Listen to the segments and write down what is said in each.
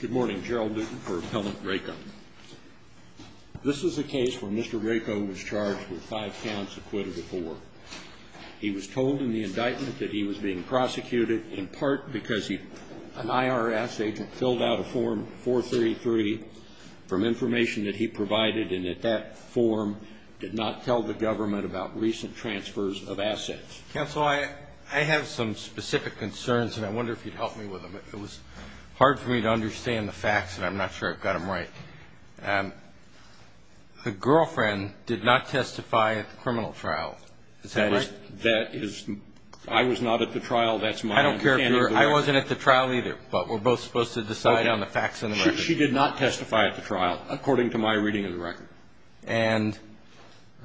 Good morning, Gerald Newton for Appellant Rakow. This is a case where Mr. Rakow was charged with five counts acquitted of four. He was told in the indictment that he was being prosecuted in part because an IRS agent filled out a Form 433 from information that he provided and that that form did not tell the government about recent transfers of assets. Counsel, I have some specific concerns and I wonder if you'd help me with them. It was hard for me to understand the facts and I'm not sure I've got them right. The girlfriend did not testify at the criminal trial. Is that right? That is – I was not at the trial. That's my understanding of the record. I don't care if you're – I wasn't at the trial either, but we're both supposed to decide on the facts in the record. She did not testify at the trial, according to my reading of the record. And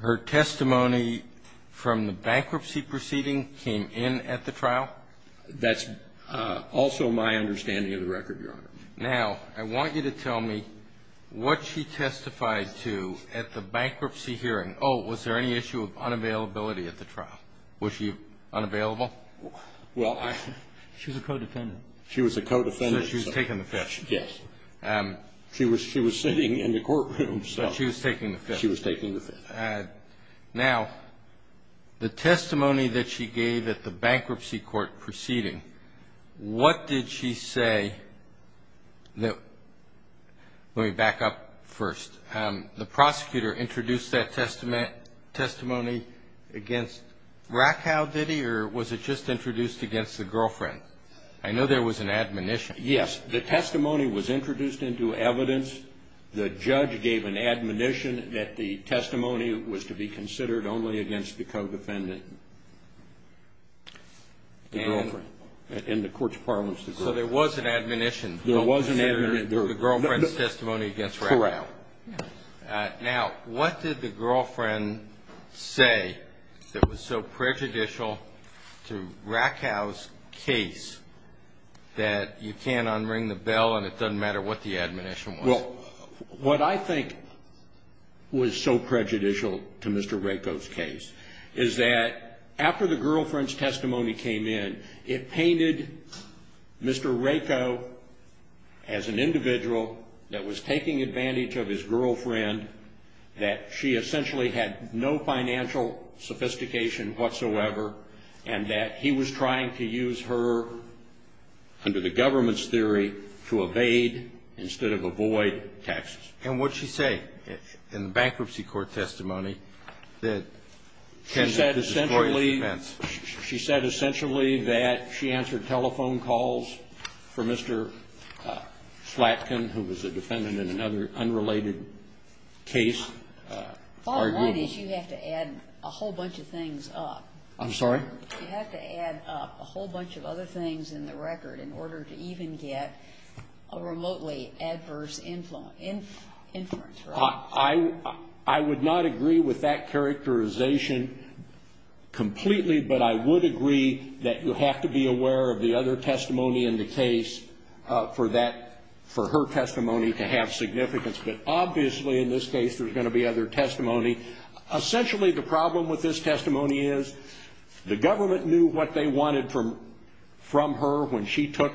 her testimony from the bankruptcy proceeding came in at the trial? That's also my understanding of the record, Your Honor. Now, I want you to tell me what she testified to at the bankruptcy hearing. Oh, was there any issue of unavailability at the trial? Was she unavailable? Well, I – She was a co-defendant. She was a co-defendant. So she was taking the fifth. Yes. She was taking the fifth. Now, the testimony that she gave at the bankruptcy court proceeding, what did she say that – let me back up first. The prosecutor introduced that testimony against Rakow, did he, or was it just introduced against the girlfriend? I know there was an admonition. Yes. The testimony was introduced into evidence. The judge gave an admonition that the testimony was to be considered only against the co-defendant, the girlfriend, in the court's parlance. So there was an admonition. There was an admonition. The girlfriend's testimony against Rakow. Correct. Now, what did the girlfriend say that was so prejudicial to Rakow's case that you can't unring the bell and it doesn't matter what the admonition was? Well, what I think was so prejudicial to Mr. Rakow's case is that after the girlfriend's testimony came in, it painted Mr. Rakow as an individual that was taking advantage of his girlfriend, that she essentially had no financial sophistication whatsoever, and that he was trying to use her, under the government's theory, to evade instead of avoid taxes. And what did she say in the bankruptcy court testimony that can destroy his defense? She said essentially that she answered telephone calls for Mr. Flatkin, who was a defendant in another unrelated case. All I need is you have to add a whole bunch of things up. I'm sorry? You have to add up a whole bunch of other things in the record in order to even get a remotely adverse influence. I would not agree with that characterization completely, but I would agree that you have to be aware of the other testimony in the case for her testimony to have significance. But obviously in this case there's going to be other testimony. Essentially the problem with this testimony is the government knew what they wanted from her when she took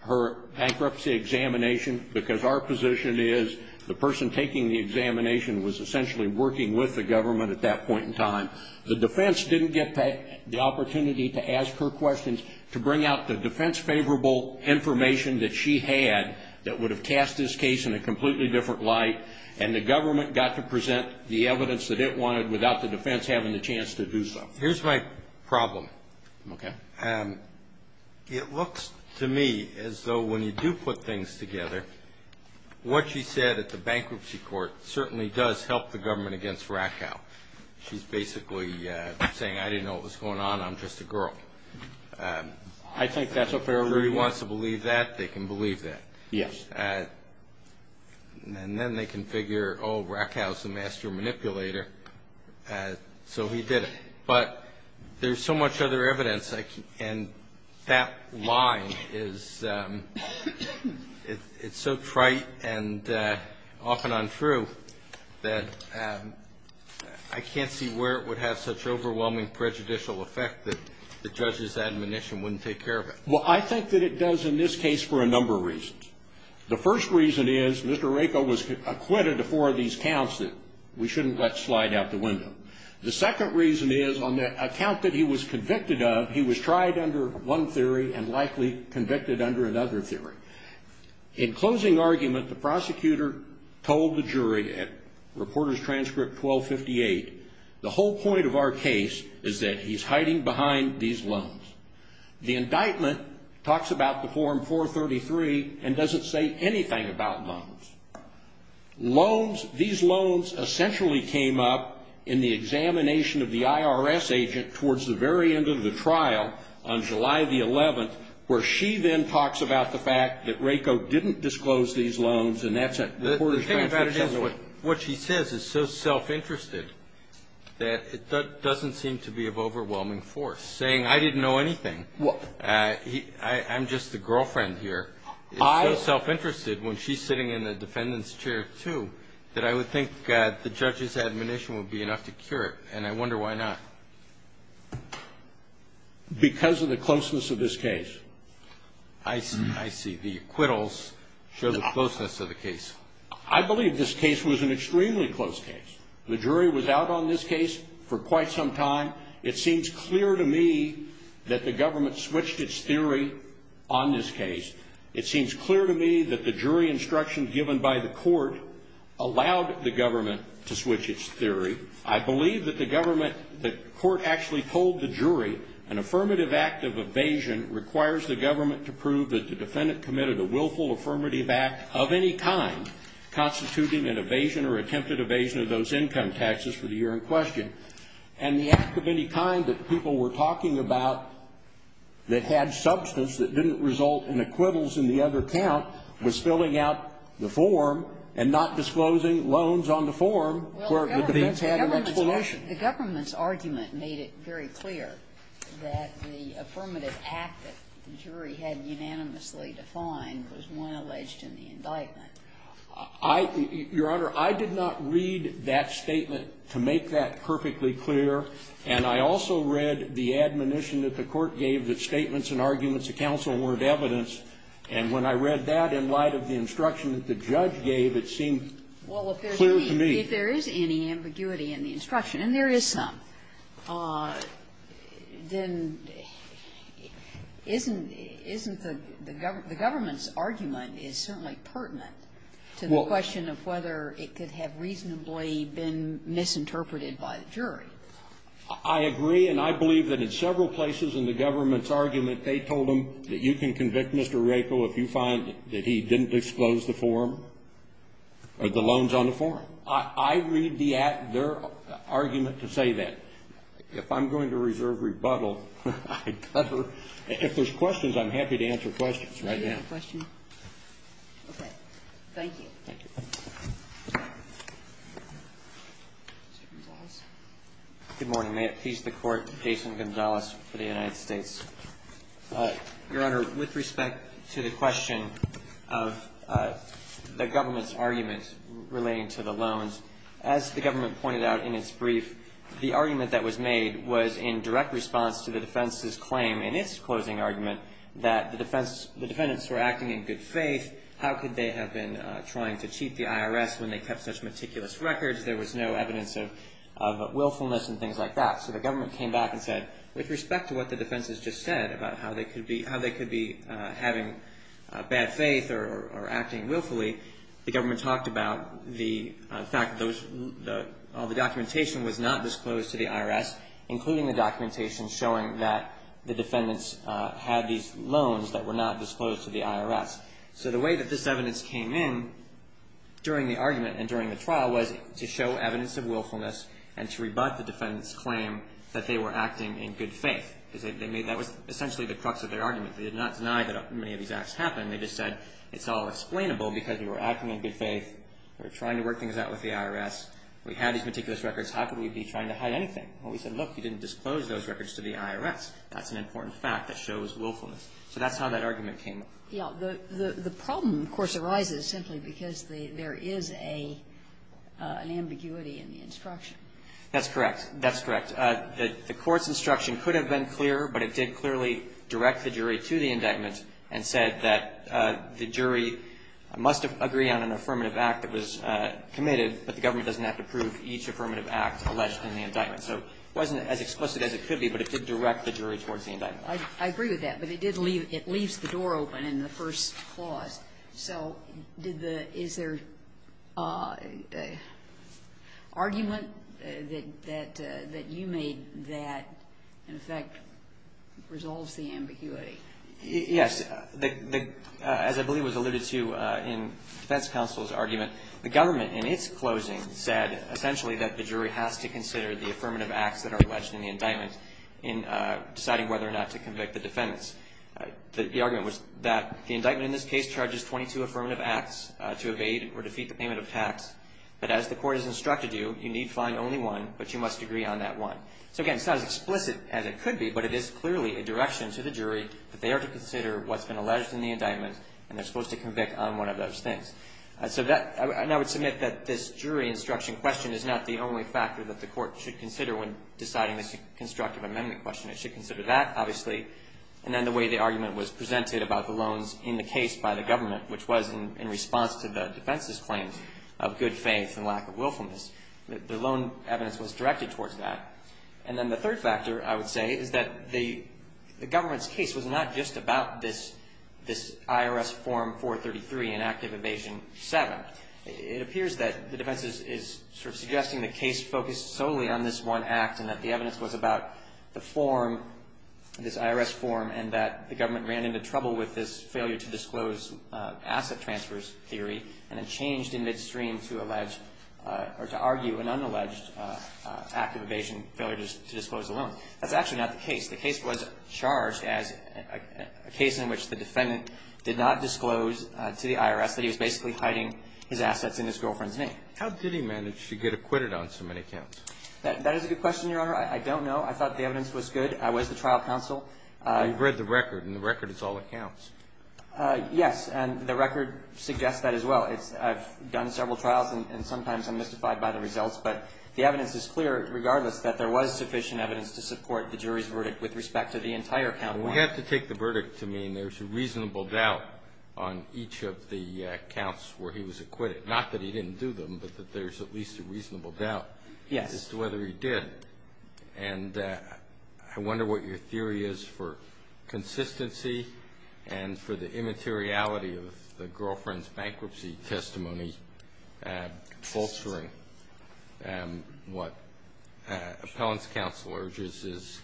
her bankruptcy examination because our position is the person taking the examination was essentially working with the government at that point in time. The defense didn't get the opportunity to ask her questions, to bring out the defense favorable information that she had that would have tasked this case in a completely different light, and the government got to present the evidence that it wanted without the defense having the chance to do so. Here's my problem. Okay. It looks to me as though when you do put things together, what she said at the bankruptcy court certainly does help the government against Rakow. She's basically saying, I didn't know what was going on. I'm just a girl. I think that's a fair argument. If everybody wants to believe that, they can believe that. Yes. And then they can figure, oh, Rakow's the master manipulator, so he did it. But there's so much other evidence, and that line is so trite and often untrue that I can't see where it would have such overwhelming prejudicial effect that the judge's admonition wouldn't take care of it. Well, I think that it does in this case for a number of reasons. The first reason is Mr. Rakow was acquitted of four of these counts that we shouldn't let slide out the window. The second reason is on the account that he was convicted of, he was tried under one theory and likely convicted under another theory. In closing argument, the prosecutor told the jury at reporter's transcript 1258, the whole point of our case is that he's hiding behind these loans. The indictment talks about the form 433 and doesn't say anything about loans. Loans, these loans essentially came up in the examination of the IRS agent towards the very end of the trial on July the 11th, where she then talks about the fact that Rakow didn't disclose these loans, and that's at reporter's transcript 1258. The thing about it is what she says is so self-interested that it doesn't seem to be of overwhelming force, saying I didn't know anything, I'm just a girlfriend here. It's so self-interested when she's sitting in the defendant's chair, too, that I would think the judge's admonition would be enough to cure it, and I wonder why not. Because of the closeness of this case. I see. The acquittals show the closeness of the case. I believe this case was an extremely close case. The jury was out on this case for quite some time. It seems clear to me that the government switched its theory on this case. It seems clear to me that the jury instruction given by the court allowed the government to switch its theory. I believe that the court actually told the jury an affirmative act of evasion requires the government to prove that the defendant committed a willful affirmative act of any kind, constituting an evasion or attempted evasion of those income taxes for the year in question. And the act of any kind that people were talking about that had substance, that didn't result in acquittals in the other count, was filling out the form and not disclosing loans on the form where the defense had an explanation. The government's argument made it very clear that the affirmative act that the jury had unanimously defined was one alleged in the indictment. I, Your Honor, I did not read that statement to make that perfectly clear, and I also read the admonition that the court gave that statements and arguments of counsel weren't evidence, and when I read that in light of the instruction that the judge gave, it seemed clear to me. Well, if there is any ambiguity in the instruction, and there is some, then isn't the government's argument is certainly pertinent to the question of whether it could have reasonably been misinterpreted by the jury. I agree, and I believe that in several places in the government's argument, they told them that you can convict Mr. Raico if you find that he didn't disclose the form or the loans on the form. I read their argument to say that. If I'm going to reserve rebuttal, I cover. If there's questions, I'm happy to answer questions right now. Do you have a question? Okay. Thank you. Thank you. Mr. Gonzales. Good morning. May it please the Court, Jason Gonzales for the United States. Your Honor, with respect to the question of the government's argument relating to the loans, as the government pointed out in its brief, the argument that was made was in direct response to the defense's claim in its closing argument that the defendants were acting in good faith. How could they have been trying to cheat the IRS when they kept such meticulous records? There was no evidence of willfulness and things like that. So the government came back and said, with respect to what the defense has just said about how they could be having bad faith or acting willfully, the government talked about the fact that all the documentation was not disclosed to the IRS, including the documentation showing that the defendants had these loans that were not disclosed to the IRS. So the way that this evidence came in during the argument and during the trial was to show evidence of willfulness and to rebut the defendant's claim that they were acting in good faith. That was essentially the crux of their argument. They did not deny that many of these acts happened. They just said it's all explainable because we were acting in good faith. We were trying to work things out with the IRS. We had these meticulous records. How could we be trying to hide anything? Well, we said, look, you didn't disclose those records to the IRS. That's an important fact that shows willfulness. So that's how that argument came up. Yeah. The problem, of course, arises simply because there is an ambiguity in the instruction. That's correct. That's correct. The Court's instruction could have been clearer, but it did clearly direct the jury to the indictment and said that the jury must agree on an affirmative act that was committed, but the government doesn't have to prove each affirmative act alleged in the indictment. So it wasn't as explicit as it could be, but it did direct the jury towards the indictment. I agree with that. But it did leave the door open in the first clause. So is there argument that you made that, in effect, resolves the ambiguity? Yes. As I believe was alluded to in the defense counsel's argument, the government, in its closing, said essentially that the jury has to consider the affirmative acts that are alleged in the indictment in deciding whether or not to convict the defendants. The argument was that the indictment in this case charges 22 affirmative acts to evade or defeat the payment of tax, but as the Court has instructed you, you need find only one, but you must agree on that one. So, again, it's not as explicit as it could be, but it is clearly a direction to the jury that they are to consider what's been alleged in the indictment, and they're supposed to convict on one of those things. So I would submit that this jury instruction question is not the only factor that the Court should consider when deciding this constructive amendment question. It should consider that, obviously, and then the way the argument was presented about the loans in the case by the government, which was in response to the defense's claims of good faith and lack of willfulness. The loan evidence was directed towards that. And then the third factor, I would say, is that the government's case was not just about this IRS Form 433, Inactive Evasion 7. It appears that the defense is sort of suggesting the case focused solely on this one act and that the evidence was about the form, this IRS form, and that the government ran into trouble with this failure to disclose asset transfers theory and then changed in midstream to allege or to argue an unalleged active evasion failure to disclose the loan. That's actually not the case. The case was charged as a case in which the defendant did not disclose to the IRS that he was basically hiding his assets in his girlfriend's name. How did he manage to get acquitted on so many counts? That is a good question, Your Honor. I don't know. I thought the evidence was good. I was the trial counsel. You've read the record, and the record is all accounts. Yes. And the record suggests that as well. I've done several trials, and sometimes I'm mystified by the results. But the evidence is clear regardless that there was sufficient evidence to support the jury's verdict with respect to the entire count. We have to take the verdict to mean there's a reasonable doubt on each of the counts where he was acquitted, not that he didn't do them, but that there's at least a reasonable doubt. Yes. As to whether he did. And I wonder what your theory is for consistency and for the immateriality of the girlfriend's bankruptcy testimony bolstering what appellant's counsel urges is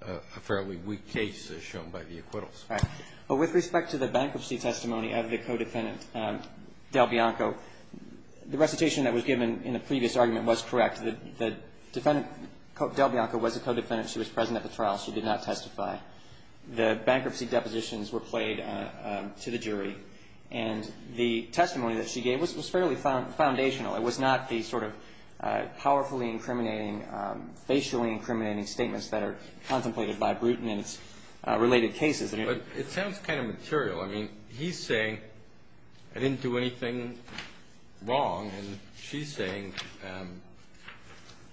a fairly weak case as shown by the acquittals. Right. But with respect to the bankruptcy testimony of the co-defendant, Del Bianco, the recitation that was given in the previous argument was correct. The defendant, Del Bianco, was a co-defendant. She was present at the trial. She did not testify. The bankruptcy depositions were played to the jury. And the testimony that she gave was fairly foundational. It was not the sort of powerfully incriminating, facially incriminating statements that are contemplated by Bruton in its related cases. But it sounds kind of material. I mean, he's saying, I didn't do anything wrong. And she's saying,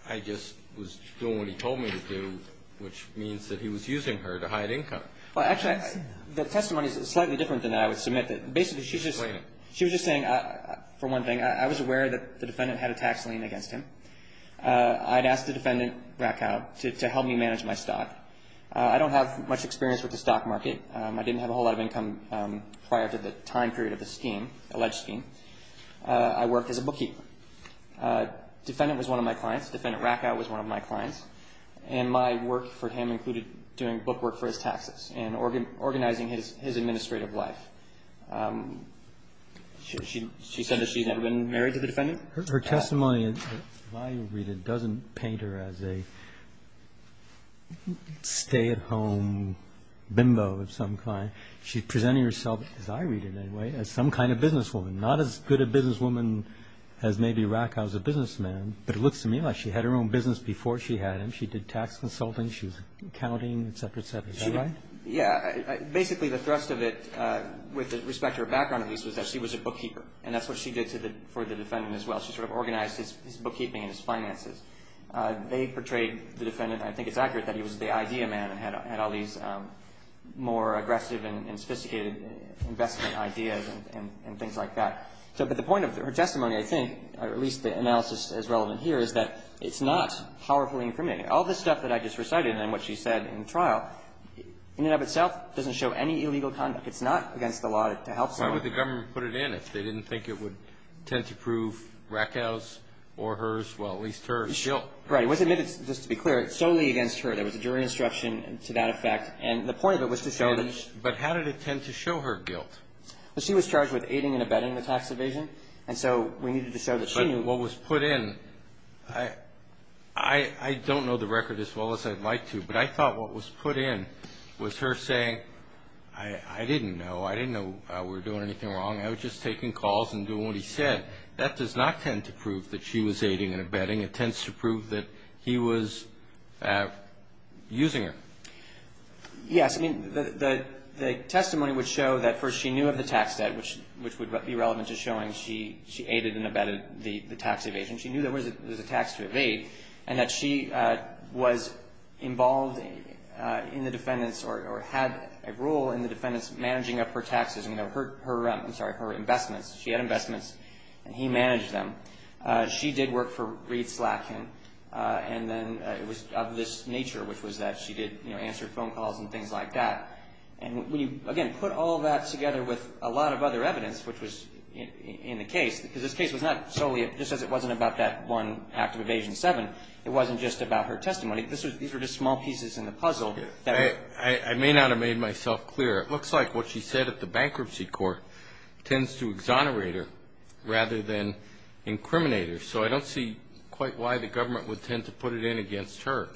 I just was doing what he told me to do, which means that he was using her to hide income. Well, actually, the testimony is slightly different than that I would submit. Basically, she was just saying, for one thing, I was aware that the defendant had a tax lien against him. I had asked the defendant, Bracow, to help me manage my stock. I don't have much experience with the stock market. I didn't have a whole lot of income prior to the time period of the scheme, alleged scheme. I worked as a bookkeeper. Defendant was one of my clients. Defendant Bracow was one of my clients. And my work for him included doing book work for his taxes and organizing his administrative life. Her testimony, if I read it, doesn't paint her as a stay-at-home bimbo of some kind. She's presenting herself, as I read it anyway, as some kind of businesswoman, not as good a businesswoman as maybe Bracow's a businessman. But it looks to me like she had her own business before she had him. She did tax consulting. She was accounting, et cetera, et cetera. Is that right? Yeah. Basically, the thrust of it, with respect to her background at least, was that she was a bookkeeper. And that's what she did for the defendant as well. She sort of organized his bookkeeping and his finances. They portrayed the defendant, I think it's accurate, that he was the idea man and had all these more aggressive and sophisticated investment ideas and things like that. But the point of her testimony, I think, or at least the analysis as relevant here, is that it's not powerfully incriminating. All this stuff that I just recited and what she said in the trial, in and of itself, doesn't show any illegal conduct. It's not against the law to help someone. Why would the government put it in if they didn't think it would tend to prove Bracow's or hers, well, at least hers, guilt? Right. It was admitted, just to be clear, solely against her. There was a jury instruction to that effect. And the point of it was to show that she was. But how did it tend to show her guilt? Well, she was charged with aiding and abetting the tax evasion. And so we needed to show that she knew. But what was put in, I don't know the record as well as I'd like to, but I thought what was put in was her saying, I didn't know. I didn't know we were doing anything wrong. I was just taking calls and doing what he said. That does not tend to prove that she was aiding and abetting. It tends to prove that he was using her. Yes. I mean, the testimony would show that first she knew of the tax debt, which would be relevant to showing she aided and abetted the tax evasion. She knew there was a tax to evade and that she was involved in the defendant's or had a role in the defendant's managing of her taxes. I'm sorry, her investments. She had investments and he managed them. She did work for Reed Slatkin. And then it was of this nature, which was that she did answer phone calls and things like that. And when you, again, put all that together with a lot of other evidence, which was in the case, because this case was not solely, just as it wasn't about that one act of Evasion 7, it wasn't just about her testimony. These were just small pieces in the puzzle. I may not have made myself clear. It looks like what she said at the bankruptcy court tends to exonerate her rather than incriminate her. So I don't see quite why the government would tend to put it in against her.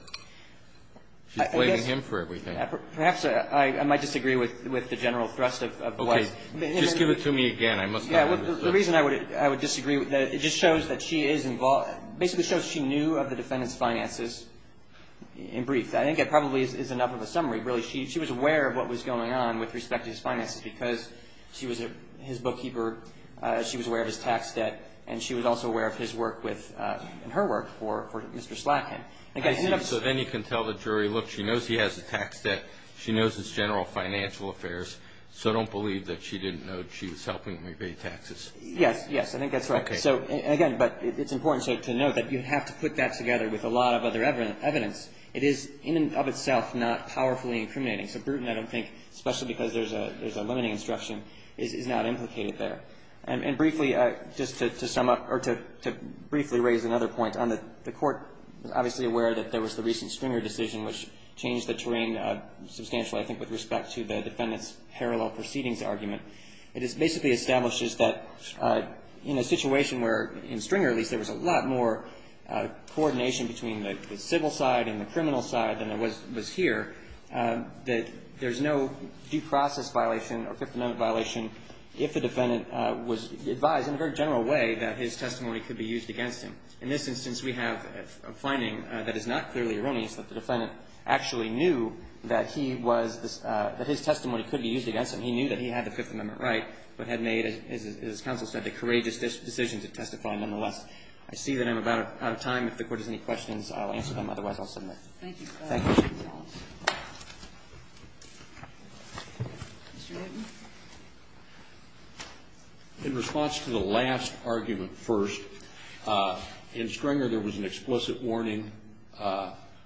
She's blaming him for everything. Perhaps I might disagree with the general thrust of the wife. Okay. Just give it to me again. I must not have understood. The reason I would disagree, it just shows that she is involved, basically shows she knew of the defendant's finances in brief. I think that probably is enough of a summary, really. She was aware of what was going on with respect to his finances because she was his bookkeeper. She was aware of his tax debt. And she was also aware of his work and her work for Mr. Slatkin. I see. So then you can tell the jury, look, she knows he has a tax debt. She knows his general financial affairs. So don't believe that she didn't know she was helping him pay taxes. Yes, yes. I think that's right. So, again, but it's important to note that you have to put that together with a lot of other evidence. It is in and of itself not powerfully incriminating. So Bruton, I don't think, especially because there's a limiting instruction, is not implicated there. And briefly, just to sum up, or to briefly raise another point, the Court was obviously aware that there was the recent Stringer decision, which changed the terrain substantially, I think, with respect to the defendant's parallel proceedings argument. It basically establishes that in a situation where, in Stringer at least, there was a lot more coordination between the civil side and the criminal side than there was here, that there's no due process violation or Fifth Amendment violation if the defendant was advised in a very general way that his testimony could be used against him. In this instance, we have a finding that is not clearly erroneous, that the defendant actually knew that he was the — that his testimony could be used against him. He knew that he had the Fifth Amendment right, but had made, as counsel said, the courageous decision to testify. Nonetheless, I see that I'm about out of time. If the Court has any questions, I'll answer them. Otherwise, I'll submit. Thank you. Thank you. Mr. Newton. In response to the last argument first, in Stringer, there was an explicit warning,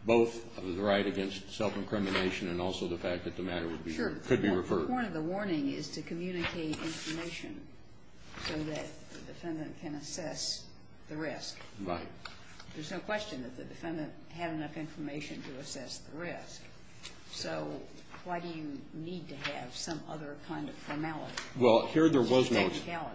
both of the right against self-incrimination and also the fact that the matter could be referred. The point of the warning is to communicate information so that the defendant can assess the risk. Right. There's no question that the defendant had enough information to assess the risk. So why do you need to have some other kind of formality? Well, here there was no — Technicality.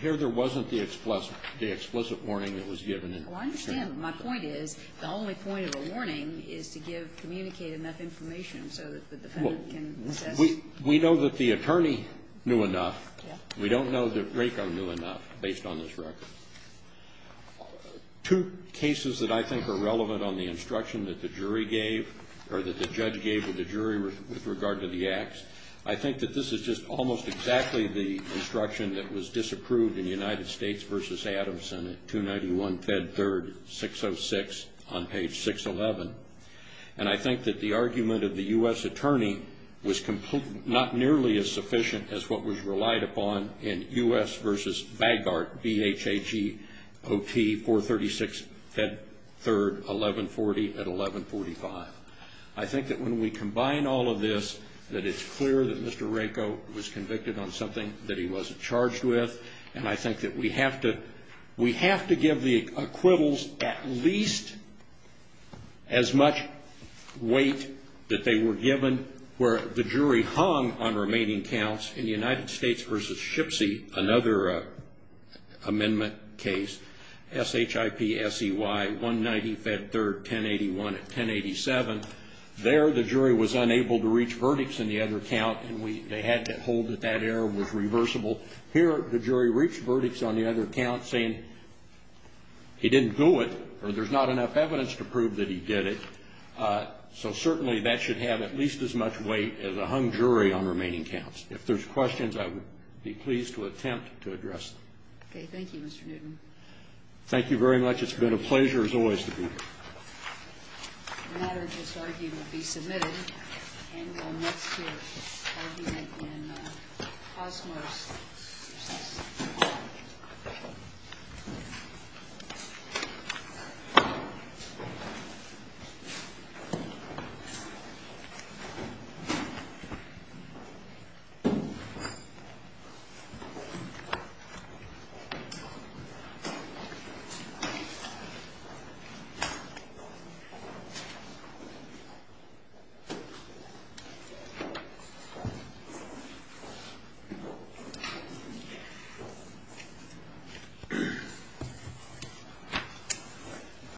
Here there wasn't the explicit warning that was given in Stringer. Well, I understand. My point is the only point of a warning is to give — communicate enough information so that the defendant can assess. We know that the attorney knew enough. Yeah. We don't know that RACO knew enough, based on this record. Two cases that I think are relevant on the instruction that the jury gave, or that the judge gave to the jury with regard to the acts. I think that this is just almost exactly the instruction that was disapproved in United States v. Adamson at 291 Fed 3rd 606 on page 611. And I think that the argument of the U.S. attorney was not nearly as sufficient as what was relied upon in U.S. v. Baggart, B-H-A-G-O-T 436 Fed 3rd 1140 at 1145. I think that when we combine all of this, that it's clear that Mr. RACO was convicted on something that he wasn't charged with. And I think that we have to — we have to give the acquittals at least as much weight that they were given where the jury hung on remaining counts. In the United States v. Shipsy, another amendment case, S-H-I-P-S-E-Y 190 Fed 3rd 1081 at 1087, there the jury was unable to reach verdicts in the other count, and they had to hold that that error was reversible. Here the jury reached verdicts on the other count saying he didn't do it or there's not enough evidence to prove that he did it. So certainly that should have at least as much weight as a hung jury on remaining counts. If there's questions, I would be pleased to attempt to address them. Okay. Thank you, Mr. Newton. Thank you very much. It's been a pleasure as always to be here. The matter of this argument will be submitted. And next year's argument in Cosmos. Thank you.